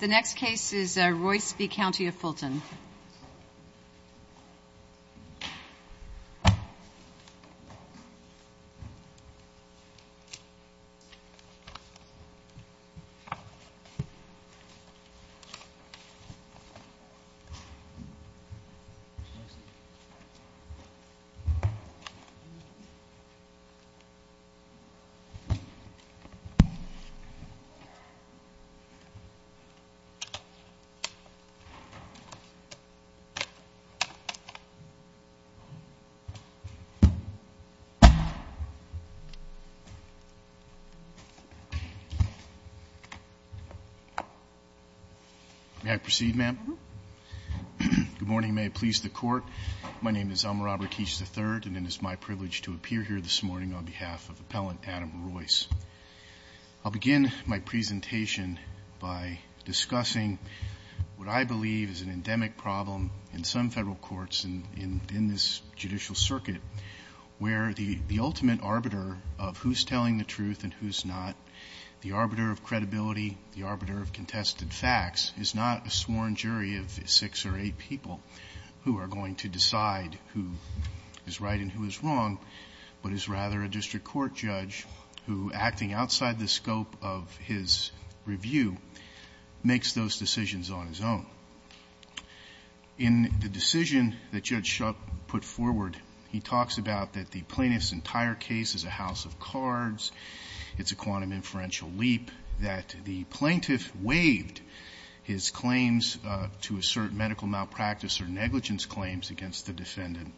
The next case is Roice v. County of Fulton. May I proceed, ma'am? Good morning. May it please the Court. My name is Elmer Robert Keech III, and it is my privilege to appear here this morning on behalf of Appellant Adam Roice. I'll begin my presentation by discussing what I believe is an endemic problem in some federal courts in this judicial circuit, where the ultimate arbiter of who's telling the truth and who's not, the arbiter of credibility, the arbiter of contested facts, is not a sworn jury of six or eight people who are going to decide who is right and who is wrong, but is rather a district court judge who, acting outside the scope of his review, makes those decisions on his own. In the decision that Judge Shup put forward, he talks about that the plaintiff's entire case is a house of cards, it's a quantum inferential leap, that the plaintiff waived his claims to assert medical malpractice or negligence claims against the defendant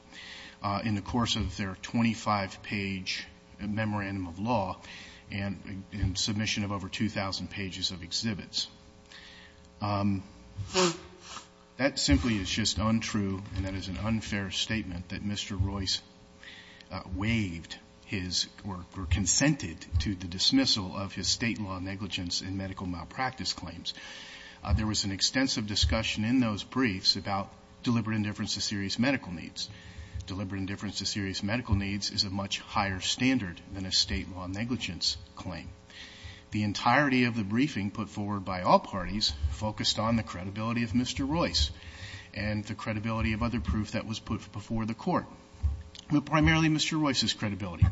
in the course of their 25-page memorandum of law and submission of over 2,000 pages of exhibits. That simply is just untrue, and that is an unfair statement that Mr. Roice waived his or consented to the dismissal of his State law negligence and medical malpractice claims. There was an extensive discussion in those briefs about deliberate indifference to serious medical needs. Deliberate indifference to serious medical needs is a much higher standard than a State law negligence claim. The entirety of the briefing put forward by all parties focused on the credibility of Mr. Roice and the credibility of other proof that was put before the Court, but primarily Mr. Roice's credibility.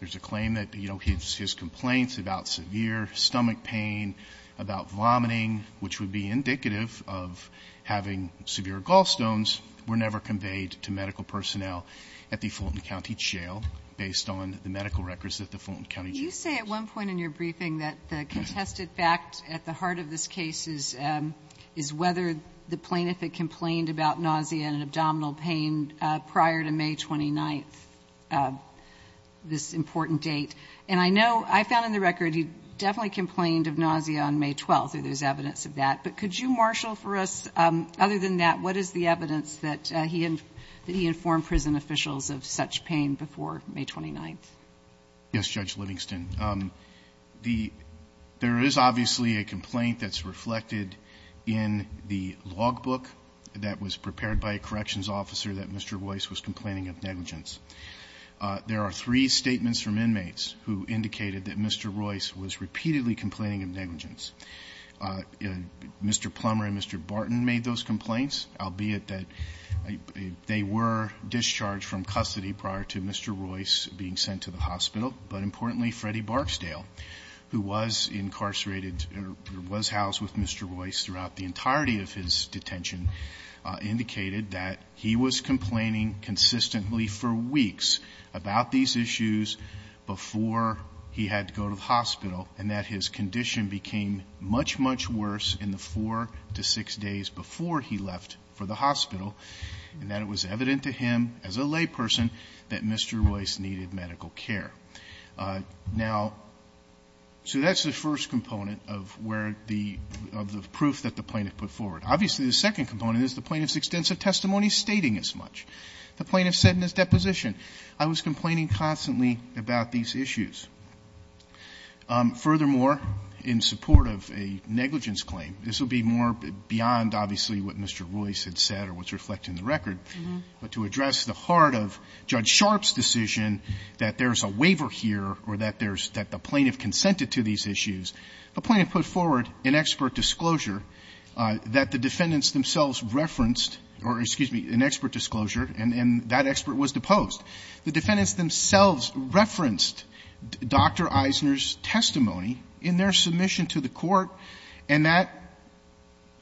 There's a claim that, you know, his complaints about severe stomach pain, about vomiting, which would be indicative of having severe gallstones, were never conveyed to medical personnel at the Fulton County Jail based on the medical records at the Fulton County Jail. You say at one point in your briefing that the contested fact at the heart of this case is whether the plaintiff complained about nausea and abdominal pain prior to May 29th, this important date. And I know, I found in the record he definitely complained of nausea on May 12th, and there's evidence of that. But could you marshal for us, other than that, what is the evidence that he informed prison officials of such pain before May 29th? Yes, Judge Livingston. There is obviously a complaint that's reflected in the logbook that was prepared by a corrections officer that Mr. Roice was complaining of negligence. There are three statements from inmates who indicated that Mr. Roice was repeatedly complaining of negligence. Mr. Plummer and Mr. Barton made those complaints, albeit that they were discharged from custody prior to Mr. Roice being sent to the hospital. But importantly, Freddie Barksdale, who was incarcerated, or was housed with Mr. Roice throughout the entirety of his detention, indicated that he was complaining consistently for weeks about these issues before he had to go to the hospital, and that his condition became much, much worse in the four to six days before he left for the hospital, and that it was evident to him, as a layperson, that Mr. Roice needed medical care. Now, so that's the first component of where the proof that the plaintiff put forward. Obviously, the second component is the plaintiff's extensive testimony stating as much. The plaintiff said in his deposition, I was complaining constantly about these issues. Furthermore, in support of a negligence claim, this would be more beyond, obviously, what Mr. Roice had said or what's reflected in the record, but to address the heart of Judge Sharpe's decision that there's a waiver here or that there's the plaintiff consented to these issues, the plaintiff put forward an expert disclosure that the defendants themselves referenced, or excuse me, an expert disclosure, and that expert was deposed. The defendants themselves referenced Dr. Eisner's testimony in their submission to the Court, and that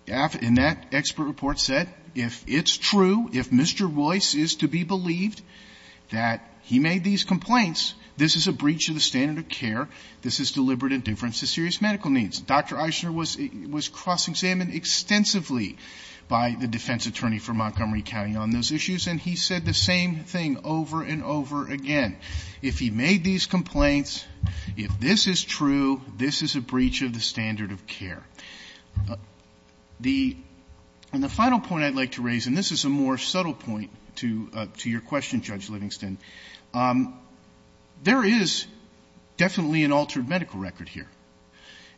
expert report said if it's true, if Mr. Roice is to be believed that he made these complaints, this is a breach of the standard of care. This is deliberate indifference to serious medical needs. Dr. Eisner was cross-examined extensively by the defense attorney for Montgomery County on those issues, and he said the same thing over and over again. If he made these complaints, if this is true, this is a breach of the standard of care. The final point I'd like to raise, and this is a more subtle point to your question, Judge Livingston, there is definitely an altered medical record here.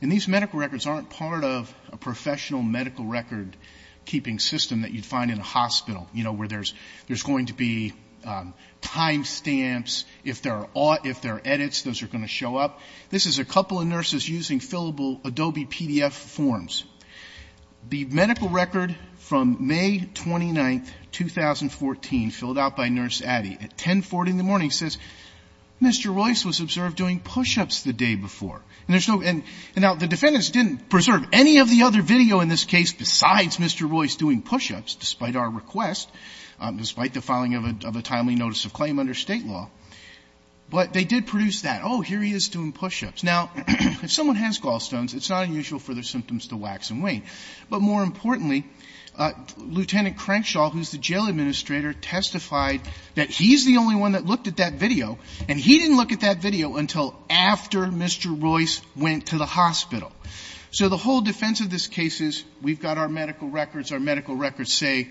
And these medical records aren't part of a professional medical record-keeping system that you'd find in a hospital, you know, where there's going to be time stamps if there are edits, those are going to show up. This is a couple of nurses using fillable Adobe PDF forms. The medical record from May 29, 2014, filled out by Nurse Addy at 1040 in the morning says Mr. Roice was observed doing push-ups the day before. And there's no ñ and now, the defendants didn't preserve any of the other video in this case besides Mr. Roice doing push-ups, despite our request, despite the filing of a timely notice of claim under State law. But they did produce that. Oh, here he is doing push-ups. Now, if someone has gallstones, it's not unusual for their symptoms to wax and wane. But more importantly, Lieutenant Crenshaw, who's the jail administrator, testified that he's the only one that looked at that video, and he didn't look at that video until after Mr. Roice went to the hospital. So the whole defense of this case is we've got our medical records. Our medical records say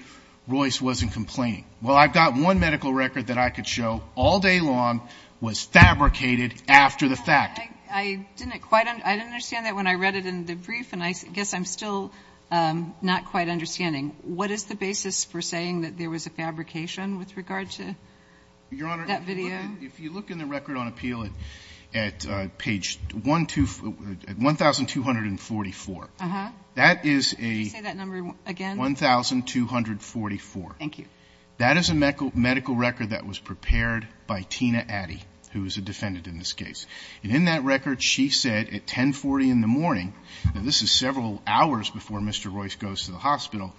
Roice wasn't complaining. Well, I've got one medical record that I could show all day long was fabricated after the fact. I didn't quite ñ I didn't understand that when I read it in the brief, and I guess I'm still not quite understanding. What is the basis for saying that there was a fabrication with regard to that video? Your Honor, if you look in the record on appeal at page 12 ñ at 1244, that is a ñ Could you say that number again? 1244. Thank you. That is a medical record that was prepared by Tina Addy, who is a defendant in this case. And in that record, she said at 1040 in the morning ñ now, this is several hours before Mr. Roice goes to the hospital ñ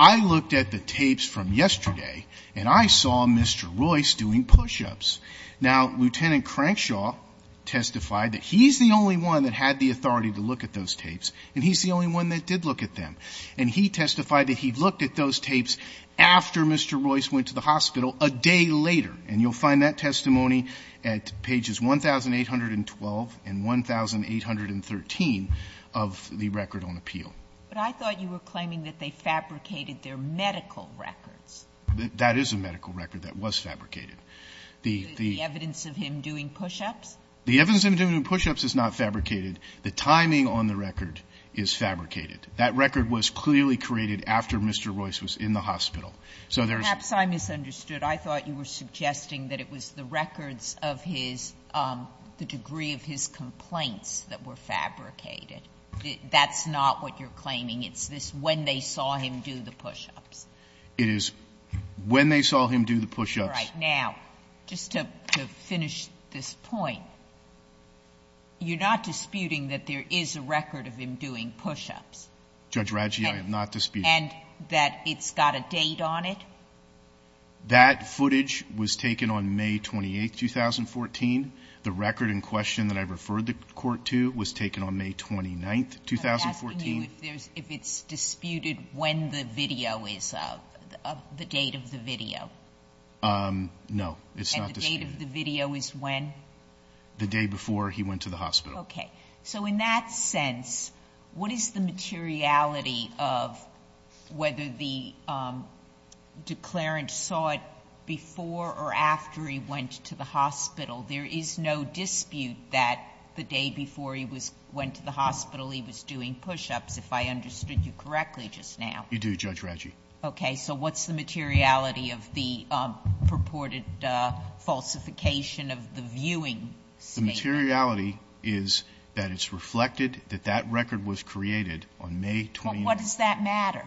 I looked at the tapes from yesterday, and I saw Mr. Roice doing push-ups. Now, Lieutenant Crenshaw testified that he's the only one that had the authority to look at those tapes, and he's the only one that did look at them. And he testified that he looked at those tapes after Mr. Roice went to the hospital a day later. And you'll find that testimony at pages 1812 and 1813 of the record on appeal. But I thought you were claiming that they fabricated their medical records. That is a medical record that was fabricated. The evidence of him doing push-ups? The evidence of him doing push-ups is not fabricated. The timing on the record is fabricated. That record was clearly created after Mr. Roice was in the hospital. So there's ñ Perhaps I misunderstood. I thought you were suggesting that it was the records of his ñ the degree of his complaints that were fabricated. That's not what you're claiming. It's this when they saw him do the push-ups. It is when they saw him do the push-ups. All right. Now, just to finish this point, you're not disputing that there is a record of him doing push-ups. Judge Radji, I am not disputing it. And that it's got a date on it? That footage was taken on May 28, 2014. The record in question that I referred the court to was taken on May 29, 2014. I'm asking you if it's disputed when the video is ñ the date of the video. No. It's not disputed. And the date of the video is when? The day before he went to the hospital. Okay. So in that sense, what is the materiality of whether the declarant saw it before or after he went to the hospital? There is no dispute that the day before he was ñ went to the hospital, he was doing push-ups, if I understood you correctly just now. You do, Judge Radji. Okay. So what's the materiality of the purported falsification of the viewing statement? The materiality is that it's reflected that that record was created on May 29th. But what does that matter?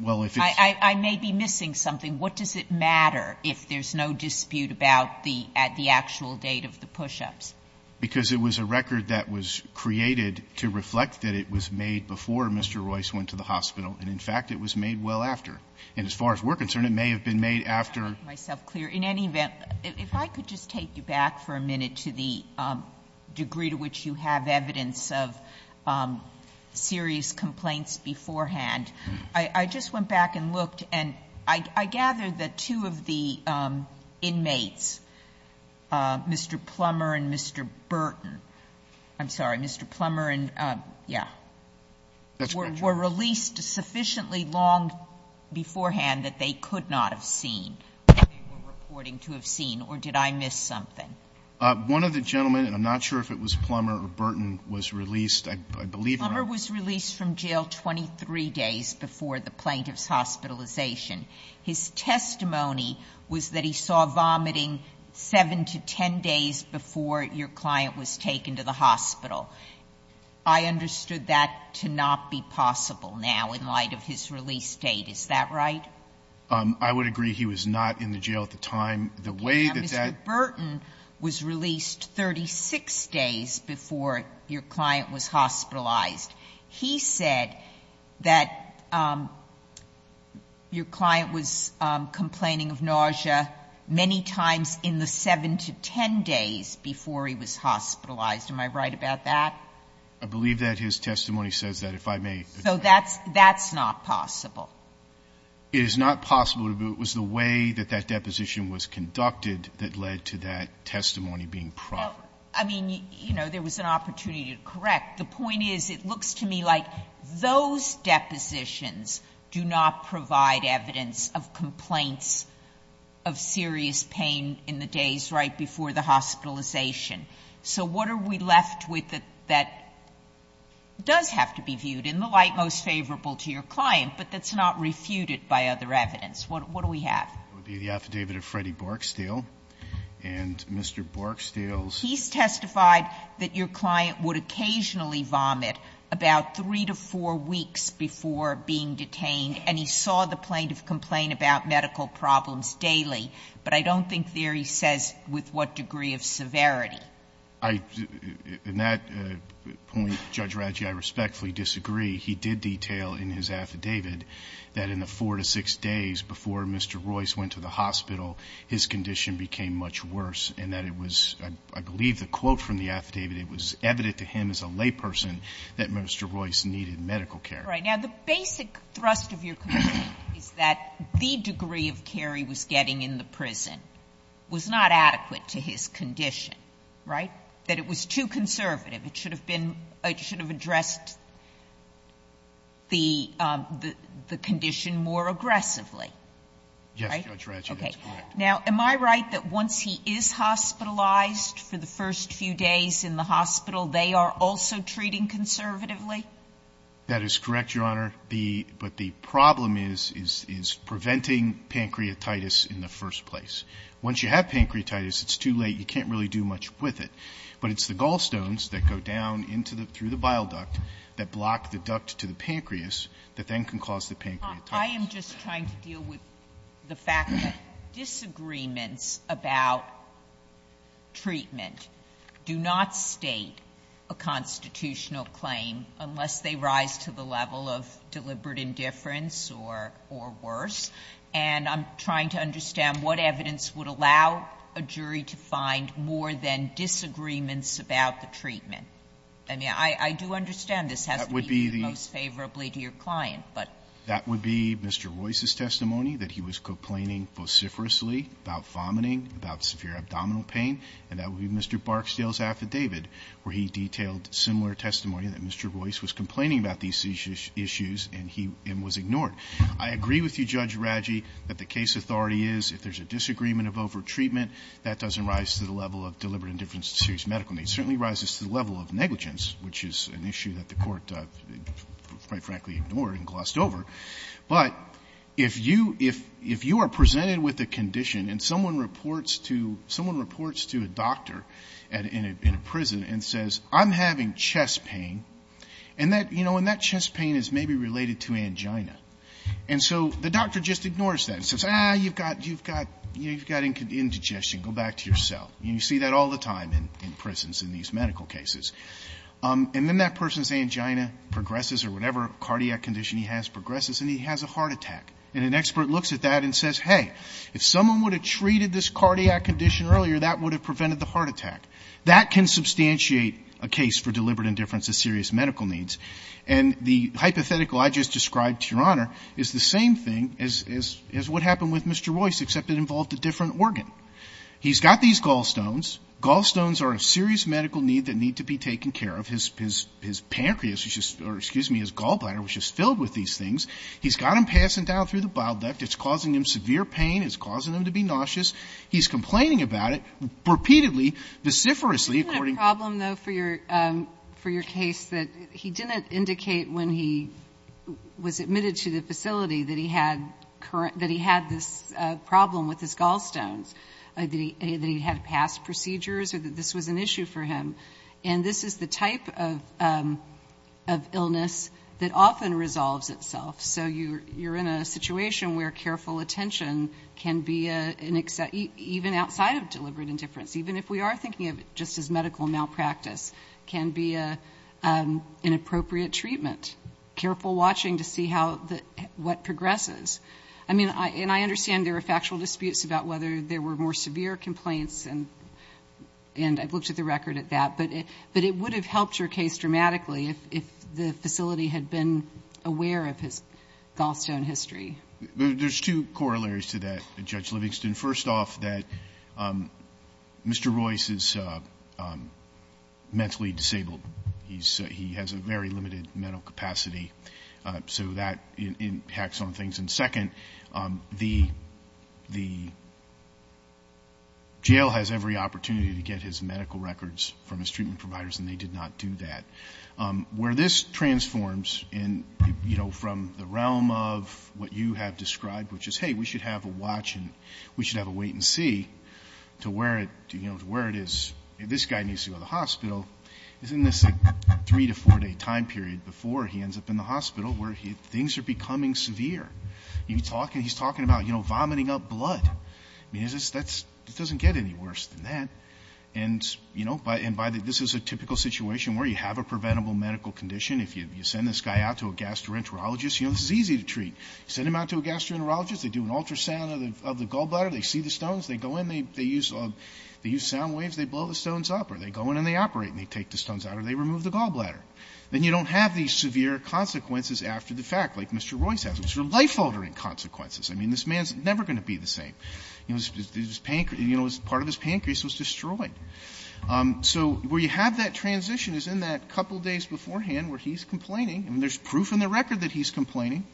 Well, if it's ñ I may be missing something. What does it matter if there's no dispute about the actual date of the push-ups? Because it was a record that was created to reflect that it was made before Mr. Royce went to the hospital. And, in fact, it was made well after. And as far as we're concerned, it may have been made after ñ Sotomayor, let me just make myself clear. In any event, if I could just take you back for a minute to the degree to which you have evidence of serious complaints beforehand. I just went back and looked, and I gather that two of the inmates, Mr. Plummer and Mr. Burton ñ I'm sorry, Mr. Plummer and ñ yeah. That's right, Judge. They were released sufficiently long beforehand that they could not have seen what they were reporting to have seen. Or did I miss something? One of the gentlemen, and I'm not sure if it was Plummer or Burton, was released, I believe ñ Plummer was released from jail 23 days before the plaintiff's hospitalization. His testimony was that he saw vomiting 7 to 10 days before your client was taken to the hospital. I understood that to not be possible now in light of his release date. Is that right? I would agree he was not in the jail at the time. The way that that ñ Mr. Burton was released 36 days before your client was hospitalized. He said that your client was complaining of nausea many times in the 7 to 10 days before he was hospitalized. Am I right about that? I believe that his testimony says that, if I may. So that's ñ that's not possible. It is not possible, but it was the way that that deposition was conducted that led to that testimony being proper. I mean, you know, there was an opportunity to correct. The point is, it looks to me like those depositions do not provide evidence of complaints of serious pain in the days right before the hospitalization. So what are we left with that does have to be viewed in the light most favorable to your client, but that's not refuted by other evidence? What do we have? It would be the affidavit of Freddie Borksteel. And Mr. Borksteel's ñ He's testified that your client would occasionally vomit about 3 to 4 weeks before being detained, and he saw the plaintiff complain about medical problems daily. But I don't think there he says with what degree of severity. I ñ in that point, Judge Raggi, I respectfully disagree. He did detail in his affidavit that in the 4 to 6 days before Mr. Royce went to the hospital, his condition became much worse, and that it was ñ I believe the quote from the affidavit, it was evident to him as a layperson that Mr. Royce needed medical care. Right. Now, the basic thrust of your complaint is that the degree of care he was getting in the prison was not adequate to his condition, right? That it was too conservative. It should have been ñ it should have addressed the condition more aggressively. Right? Yes, Judge Raggi. That's correct. Okay. Now, am I right that once he is hospitalized for the first few days in the hospital, they are also treating conservatively? That is correct, Your Honor. The ñ but the problem is, is preventing pancreatitis in the first place. Once you have pancreatitis, it's too late. You can't really do much with it. But it's the gallstones that go down into the ñ through the bile duct that block the duct to the pancreas that then can cause the pancreatitis. I am just trying to deal with the fact that disagreements about treatment do not State a constitutional claim unless they rise to the level of deliberate indifference or worse. And I'm trying to understand what evidence would allow a jury to find more than disagreements about the treatment. I mean, I do understand this has to be most favorably to your client, but ñ That would be Mr. Royce's testimony that he was complaining vociferously about vomiting, about severe abdominal pain, and that would be Mr. Barksdale's very detailed, similar testimony that Mr. Royce was complaining about these issues and he ñ and was ignored. I agree with you, Judge Raggi, that the case authority is, if there's a disagreement of overtreatment, that doesn't rise to the level of deliberate indifference to serious medical needs. It certainly rises to the level of negligence, which is an issue that the Court quite frankly ignored and glossed over. But if you ñ if you are presented with a condition and someone reports to ñ someone says, I'm having chest pain, and that ñ you know, and that chest pain is maybe related to angina. And so the doctor just ignores that and says, ah, you've got ñ you've got ñ you've got indigestion. Go back to your cell. And you see that all the time in prisons in these medical cases. And then that person's angina progresses or whatever cardiac condition he has progresses, and he has a heart attack. And an expert looks at that and says, hey, if someone would have treated this cardiac condition earlier, that would have prevented the heart attack. That can substantiate a case for deliberate indifference to serious medical needs. And the hypothetical I just described, Your Honor, is the same thing as ñ as what happened with Mr. Royce, except it involved a different organ. He's got these gallstones. Gallstones are a serious medical need that need to be taken care of. His ñ his pancreas, which is ñ or excuse me, his gallbladder, which is filled with these things. He's got them passing down through the bile duct. It's causing him severe pain. It's causing him to be nauseous. He's complaining about it repeatedly. Veciferously, according to ñ Isn't that a problem, though, for your ñ for your case, that he didn't indicate when he was admitted to the facility that he had current ñ that he had this problem with his gallstones, that he had past procedures or that this was an issue for him? And this is the type of illness that often resolves itself. So you're in a situation where careful attention can be an ñ even outside of deliberate indifference. Even if we are thinking of it just as medical malpractice, can be an inappropriate treatment, careful watching to see how the ñ what progresses. I mean, and I understand there are factual disputes about whether there were more severe complaints, and I've looked at the record at that. But it would have helped your case dramatically if the facility had been aware of his gallstone history. There's two corollaries to that, Judge Livingston. First off, that Mr. Royce is mentally disabled. He's ñ he has a very limited mental capacity. So that impacts on things. And second, the ñ the jail has every opportunity to get his medical records from his treatment providers, and they did not do that. Where this transforms in, you know, from the realm of what you have described, which is, hey, we should have a watch and we should have a wait-and-see, to where it ñ you know, to where it is ñ if this guy needs to go to the hospital, it's in this, like, three- to four-day time period before he ends up in the hospital where things are becoming severe. You can talk ñ he's talking about, you know, vomiting up blood. I mean, is this ñ that's ñ it doesn't get any worse than that. And, you know, by ñ and by the ñ this is a typical situation where you have a preventable medical condition. If you send this guy out to a gastroenterologist, you know, this is easy to treat. You send him out to a gastroenterologist. They do an ultrasound of the gallbladder. They see the stones. They go in. They use ñ they use sound waves. They blow the stones up, or they go in and they operate and they take the stones out, or they remove the gallbladder. Then you don't have these severe consequences after the fact, like Mr. Royce has, which are life-altering consequences. I mean, this man is never going to be the same. You know, his pancreas ñ you know, part of his pancreas was destroyed. So where you have that transition is in that couple days beforehand where he's complaining. I mean, there's proof in the record that he's complaining.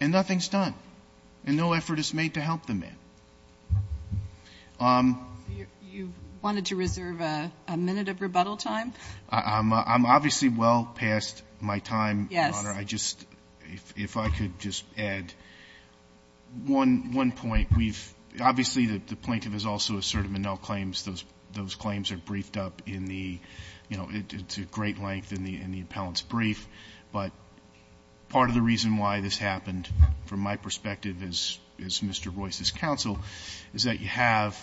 And nothing's done. And no effort is made to help the man. MS. GOTTLIEB You wanted to reserve a minute of rebuttal time? MR. BOUTROUS I'm obviously well past my time, Your Honor. MS. GOTTLIEB Yes. MR. BOUTROUS I just ñ if I could just add one point. We've ñ obviously, the plaintiff has also asserted Menel claims. Those claims are briefed up in the ñ you know, it's a great length in the appellant's brief. But part of the reason why this happened, from my perspective as Mr. Royce's counsel, is that you have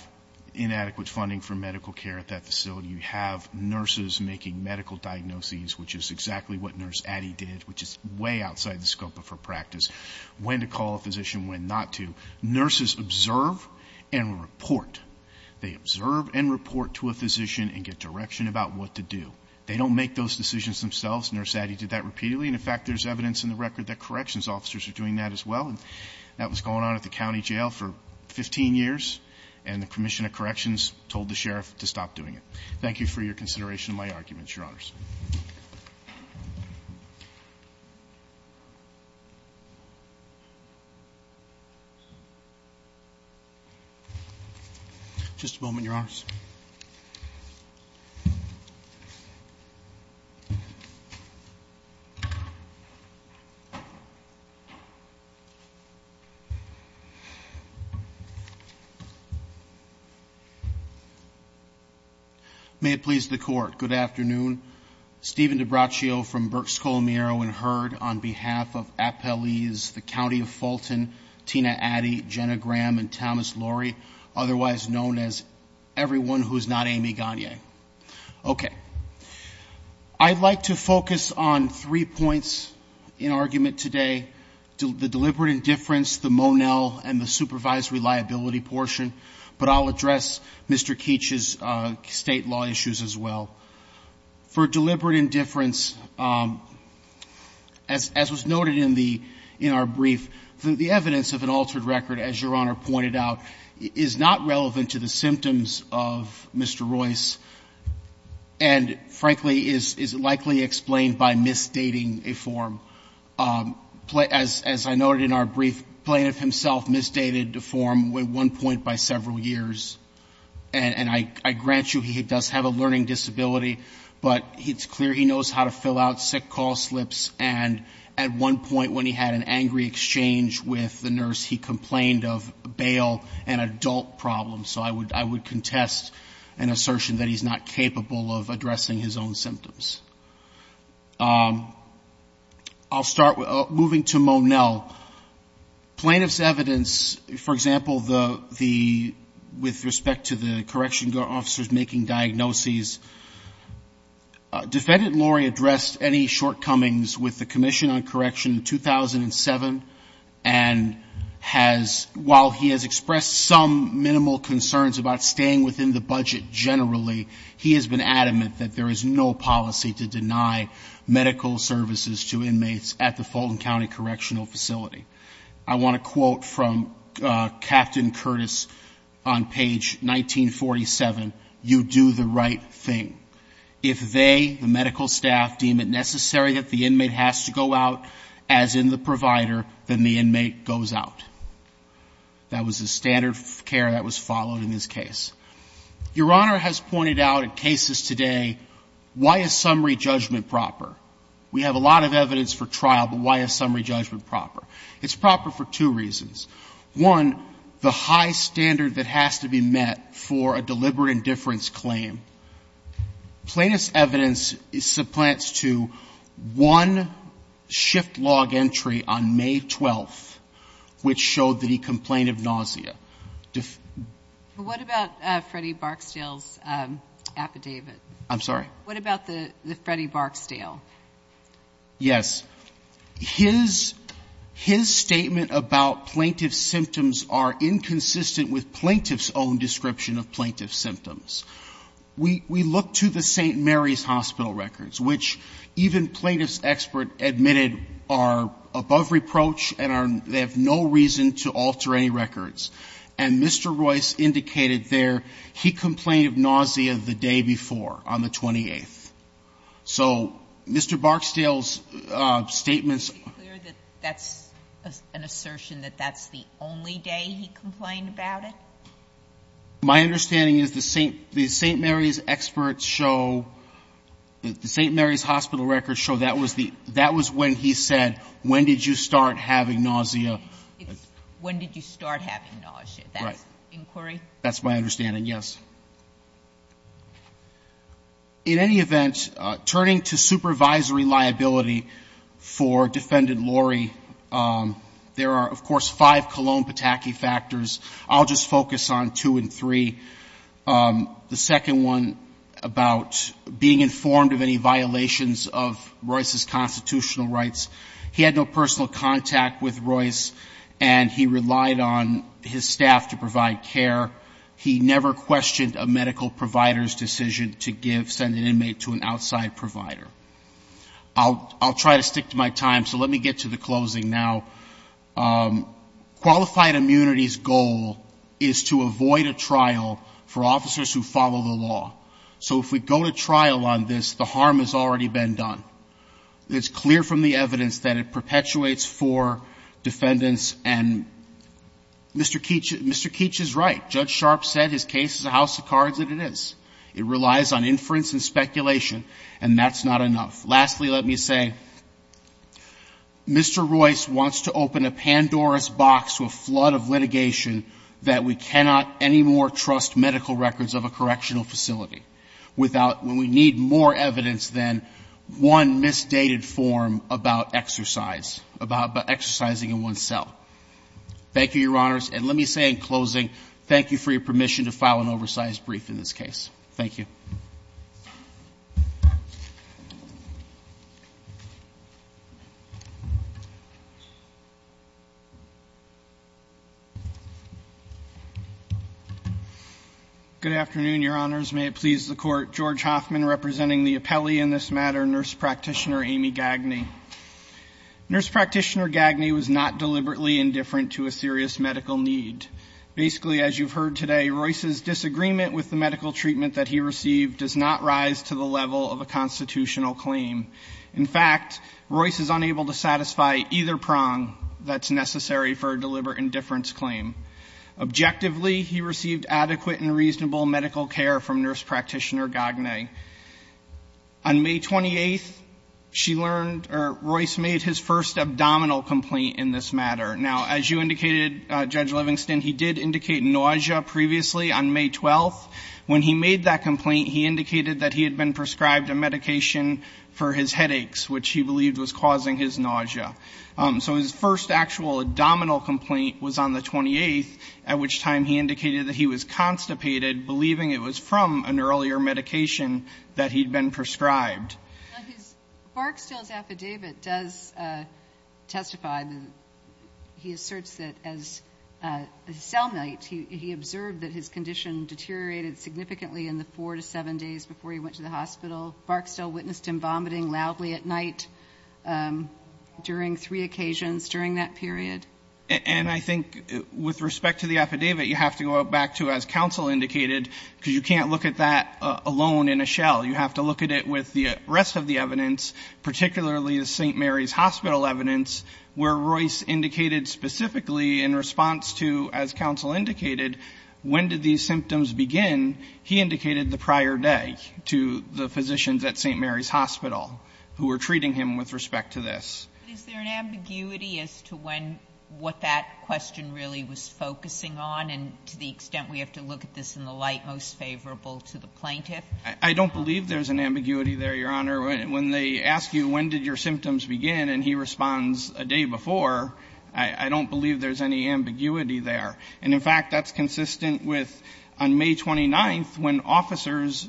inadequate funding for medical care at that facility. You have nurses making medical diagnoses, which is exactly what Nurse Addy did, which is way outside the scope of her practice ñ when to call a physician, when not to. Nurses observe and report. They observe and report to a physician and get direction about what to do. They don't make those decisions themselves. Nurse Addy did that repeatedly. And, in fact, there's evidence in the record that corrections officers are doing that as well. And that was going on at the county jail for 15 years. And the Commission of Corrections told the sheriff to stop doing it. Thank you for your consideration of my arguments, Your Honors. MR. ROYCE. Thank you, Mr. Chairman. May it please the Court, good afternoon. Stephen DeBracio from Berks, Colomero, and Heard on behalf of appellees, the County of Okay. I'd like to focus on three points in argument today, the deliberate indifference, the Monel and the supervisory liability portion, but I'll address Mr. Keech's state law issues as well. For deliberate indifference, as was noted in our brief, the evidence of an altered record, as Your Honor pointed out, is not relevant to the symptoms of Mr. Royce, and frankly is likely explained by misdating a form. As I noted in our brief, the plaintiff himself misdated the form at one point by several years, and I grant you he does have a learning disability, but it's clear he knows how to fill out sick call slips, and at one point when he had an angry exchange with the nurse, he complained of bail and adult problems. So I would contest an assertion that he's not capable of addressing his own symptoms. I'll start with moving to Monel. Plaintiff's evidence, for example, the — with respect to the correctional officers making diagnoses, Defendant Lori addressed any shortcomings with the Commission on Correction in 2007, and has — while he has expressed some minimal concerns about staying within the budget generally, he has been adamant that there is no policy to deny medical services to inmates at the Fulton County Correctional Facility. I want to quote from Captain Curtis on page 1947, you do the right thing. If they, the medical staff, deem it necessary that the inmate has to go out as in the provider, then the inmate goes out. That was the standard of care that was followed in this case. Your Honor has pointed out in cases today, why is summary judgment proper? We have a lot of evidence for trial, but why is summary judgment proper? It's proper for two reasons. One, the high standard that has to be met for a deliberate indifference claim. Plaintiff's evidence supplants to one shift log entry on May 12th, which showed that he complained of nausea. What about Freddie Barksdale's affidavit? I'm sorry? What about the Freddie Barksdale? Yes. His statement about plaintiff's symptoms are inconsistent with plaintiff's own description of plaintiff's symptoms. We look to the St. Mary's Hospital records, which even plaintiff's expert admitted are above reproach and they have no reason to alter any records. And Mr. Royce indicated there he complained of nausea the day before, on the 28th. So Mr. Barksdale's statements. Are you clear that that's an assertion, that that's the only day he complained about it? My understanding is the St. Mary's experts show, the St. Mary's Hospital records show that was the, that was when he said, when did you start having nausea? When did you start having nausea? That's inquiry? That's my understanding, yes. In any event, turning to supervisory liability for Defendant Laurie, there are, of course, five Cologne Pataki factors. I'll just focus on two and three. The second one about being informed of any violations of Royce's constitutional rights. He had no personal contact with Royce and he relied on his staff to provide care. He never questioned a medical provider's decision to give, send an inmate to an outside provider. I'll try to stick to my time, so let me get to the closing now. Qualified immunity's goal is to avoid a trial for officers who follow the law. So if we go to trial on this, the harm has already been done. It's clear from the evidence that it perpetuates for defendants and Mr. Keech is right. Judge Sharpe said his case is a house of cards and it is. It relies on inference and speculation and that's not enough. Lastly, let me say, Mr. Royce wants to open a Pandora's box to a flood of litigation that we cannot anymore trust medical records of a correctional facility without when we need more evidence than one misdated form about exercise, about exercising in one's cell. Thank you, Your Honors. And let me say in closing, thank you for your permission to file an oversized brief in this case. Thank you. Good afternoon, Your Honors. May it please the Court. George Hoffman representing the appellee in this matter, Nurse Practitioner Amy Gagne. Nurse Practitioner Gagne was not deliberately indifferent to a serious medical need. Basically, as you've heard today, Royce's disagreement with the medical treatment that he received does not rise to the level of a constitutional claim. In fact, Royce is unable to satisfy either prong that's necessary for a deliberate indifference claim. Objectively, he received adequate and reasonable medical care from Nurse Practitioner Gagne. On May 28th, she learned or Royce made his first abdominal complaint in this matter. Now, as you indicated, Judge Livingston, he did indicate nausea previously on May 12th. When he made that complaint, he indicated that he had been prescribed a medication for his headaches, which he believed was causing his nausea. So his first actual abdominal complaint was on the 28th, at which time he indicated that he was constipated, believing it was from an earlier medication that he'd been prescribed. Now, Barksdale's affidavit does testify that he asserts that as a cellmate, he observed that his condition deteriorated significantly in the four to seven days before he went to the hospital. Barksdale witnessed him vomiting loudly at night during three occasions during that period. And I think with respect to the affidavit, you have to go back to as counsel indicated, because you can't look at that alone in a shell. You have to look at it with the rest of the evidence, particularly the St. Mary's Hospital evidence, where Royce indicated specifically in response to, as counsel indicated, when did these symptoms begin? He indicated the prior day to the physicians at St. Mary's Hospital who were treating him with respect to this. But is there an ambiguity as to when what that question really was focusing on, and to the extent we have to look at this in the light most favorable to the plaintiff? I don't believe there's an ambiguity there, Your Honor. When they ask you when did your symptoms begin, and he responds a day before, I don't believe there's any ambiguity there. And, in fact, that's consistent with on May 29th, when officers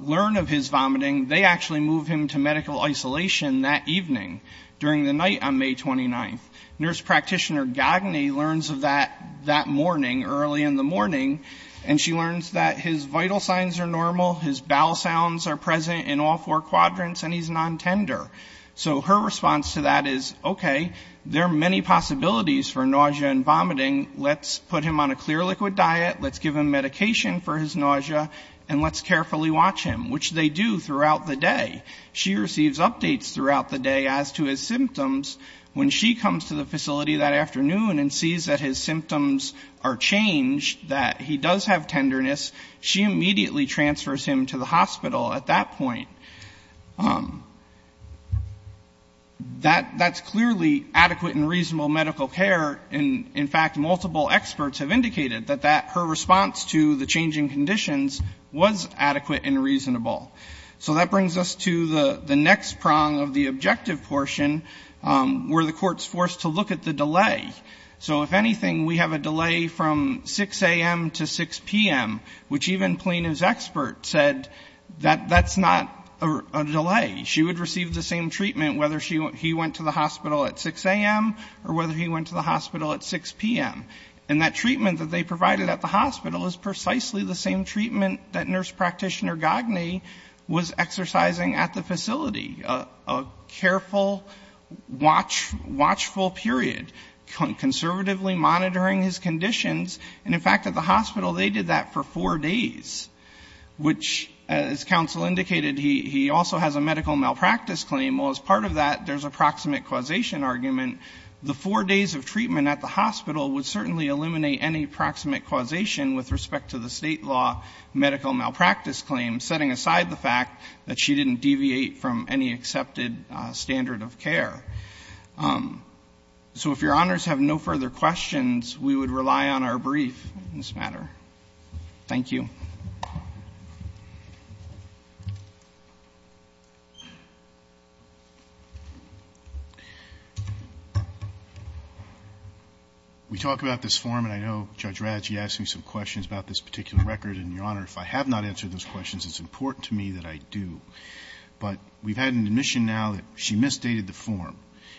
learn of his vomiting, they actually move him to medical isolation that evening, during the night on May 29th. Nurse practitioner Gagne learns of that that morning, early in the morning, and she learns that his vital signs are normal, his bowel sounds are present in all four quadrants, and he's non-tender. So her response to that is, okay, there are many possibilities for nausea and vomiting. Let's put him on a clear liquid diet, let's give him medication for his nausea, and let's carefully watch him, which they do throughout the day. She receives updates throughout the day as to his symptoms. When she comes to the facility that afternoon and sees that his symptoms are changed, that he does have tenderness, she immediately transfers him to the hospital at that point. That's clearly adequate and reasonable medical care. And, in fact, multiple experts have indicated that her response to the changing conditions was adequate and reasonable. So that brings us to the next prong of the objective portion, where the court's forced to look at the delay. So, if anything, we have a delay from 6 a.m. to 6 p.m., which even Plano's expert said that that's not a delay. She would receive the same treatment whether he went to the hospital at 6 a.m. or whether he went to the hospital at 6 p.m. And that treatment that they provided at the hospital is precisely the same treatment that nurse practitioner Gagne was exercising at the facility, a careful, watchful period, conservatively monitoring his conditions. And, in fact, at the hospital, they did that for four days, which, as counsel indicated, he also has a medical malpractice claim. Well, as part of that, there's a proximate causation argument. The four days of treatment at the hospital would certainly eliminate any proximate causation with respect to the state law medical malpractice claim, setting aside the fact that she didn't deviate from any accepted standard of care. So if Your Honors have no further questions, we would rely on our brief on this matter. Thank you. We talk about this form, and I know Judge Radji asked me some questions about this particular record. And, Your Honor, if I have not answered those questions, it's important to me that I do. But we've had an admission now that she misdated the form,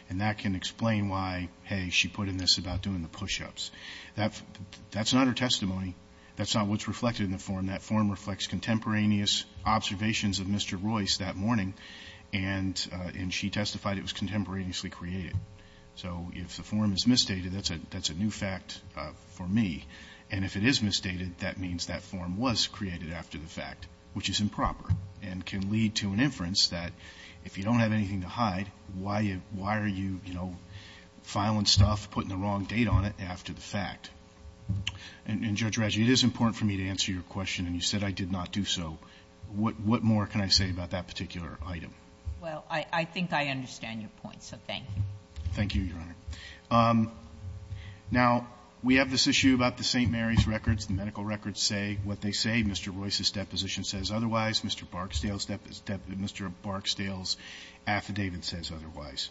and that can explain why, hey, she put in this about doing the push-ups. That's not her testimony. That's not what's reflected in the form. That form reflects contemporaneous observations of Mr. Royce that morning, and she testified it was contemporaneously created. So if the form is misdated, that's a new fact for me. And if it is misdated, that means that form was created after the fact, which is improper, and can lead to an inference that if you don't have anything to hide, why are you, you know, filing stuff, putting the wrong date on it, after the fact. And, Judge Radji, it is important for me to answer your question. And you said I did not do so. What more can I say about that particular item? Well, I think I understand your point, so thank you. Thank you, Your Honor. Now, we have this issue about the St. Mary's records. The medical records say what they say. Mr. Royce's deposition says otherwise. Mr. Barksdale's affidavit says otherwise.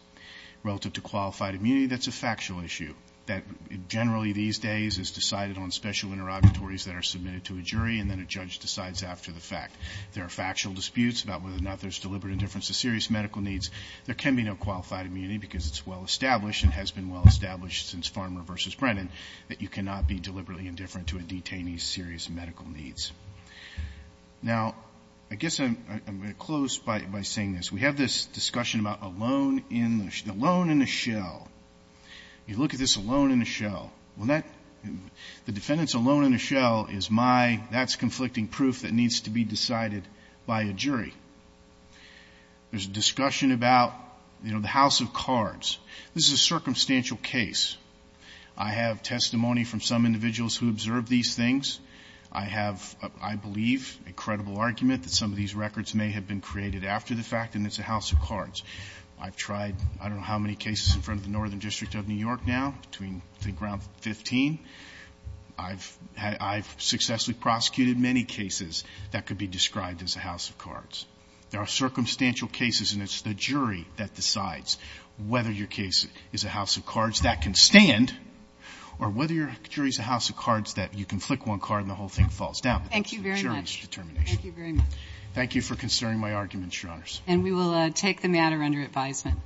Relative to qualified immunity, that's a factual issue, that generally these days is decided on special interrogatories that are submitted to a jury, and then a judge decides after the fact. There are factual disputes about whether or not there's deliberate indifference to serious medical needs. There can be no qualified immunity because it's well-established and has been well-established since Farmer v. Brennan that you cannot be deliberately indifferent to a detainee's serious medical needs. Now, I guess I'm going to close by saying this. We have this discussion about alone in a shell. You look at this alone in a shell. The defendant's alone in a shell is my, that's conflicting proof that needs to be decided by a jury. There's a discussion about, you know, the house of cards. This is a circumstantial case. I have testimony from some individuals who observed these things. I have, I believe, a credible argument that some of these records may have been created after the fact, and it's a house of cards. I've tried I don't know how many cases in front of the Northern District of New York now, between I think around 15. I've successfully prosecuted many cases that could be described as a house of cards. There are circumstantial cases, and it's the jury that decides whether your case is a house of cards. That can stand, or whether your jury's a house of cards that you can flick one card and the whole thing falls down. Thank you very much. That's the jury's determination. Thank you very much. Thank you for considering my arguments, Your Honors. And we will take the matter under advisement.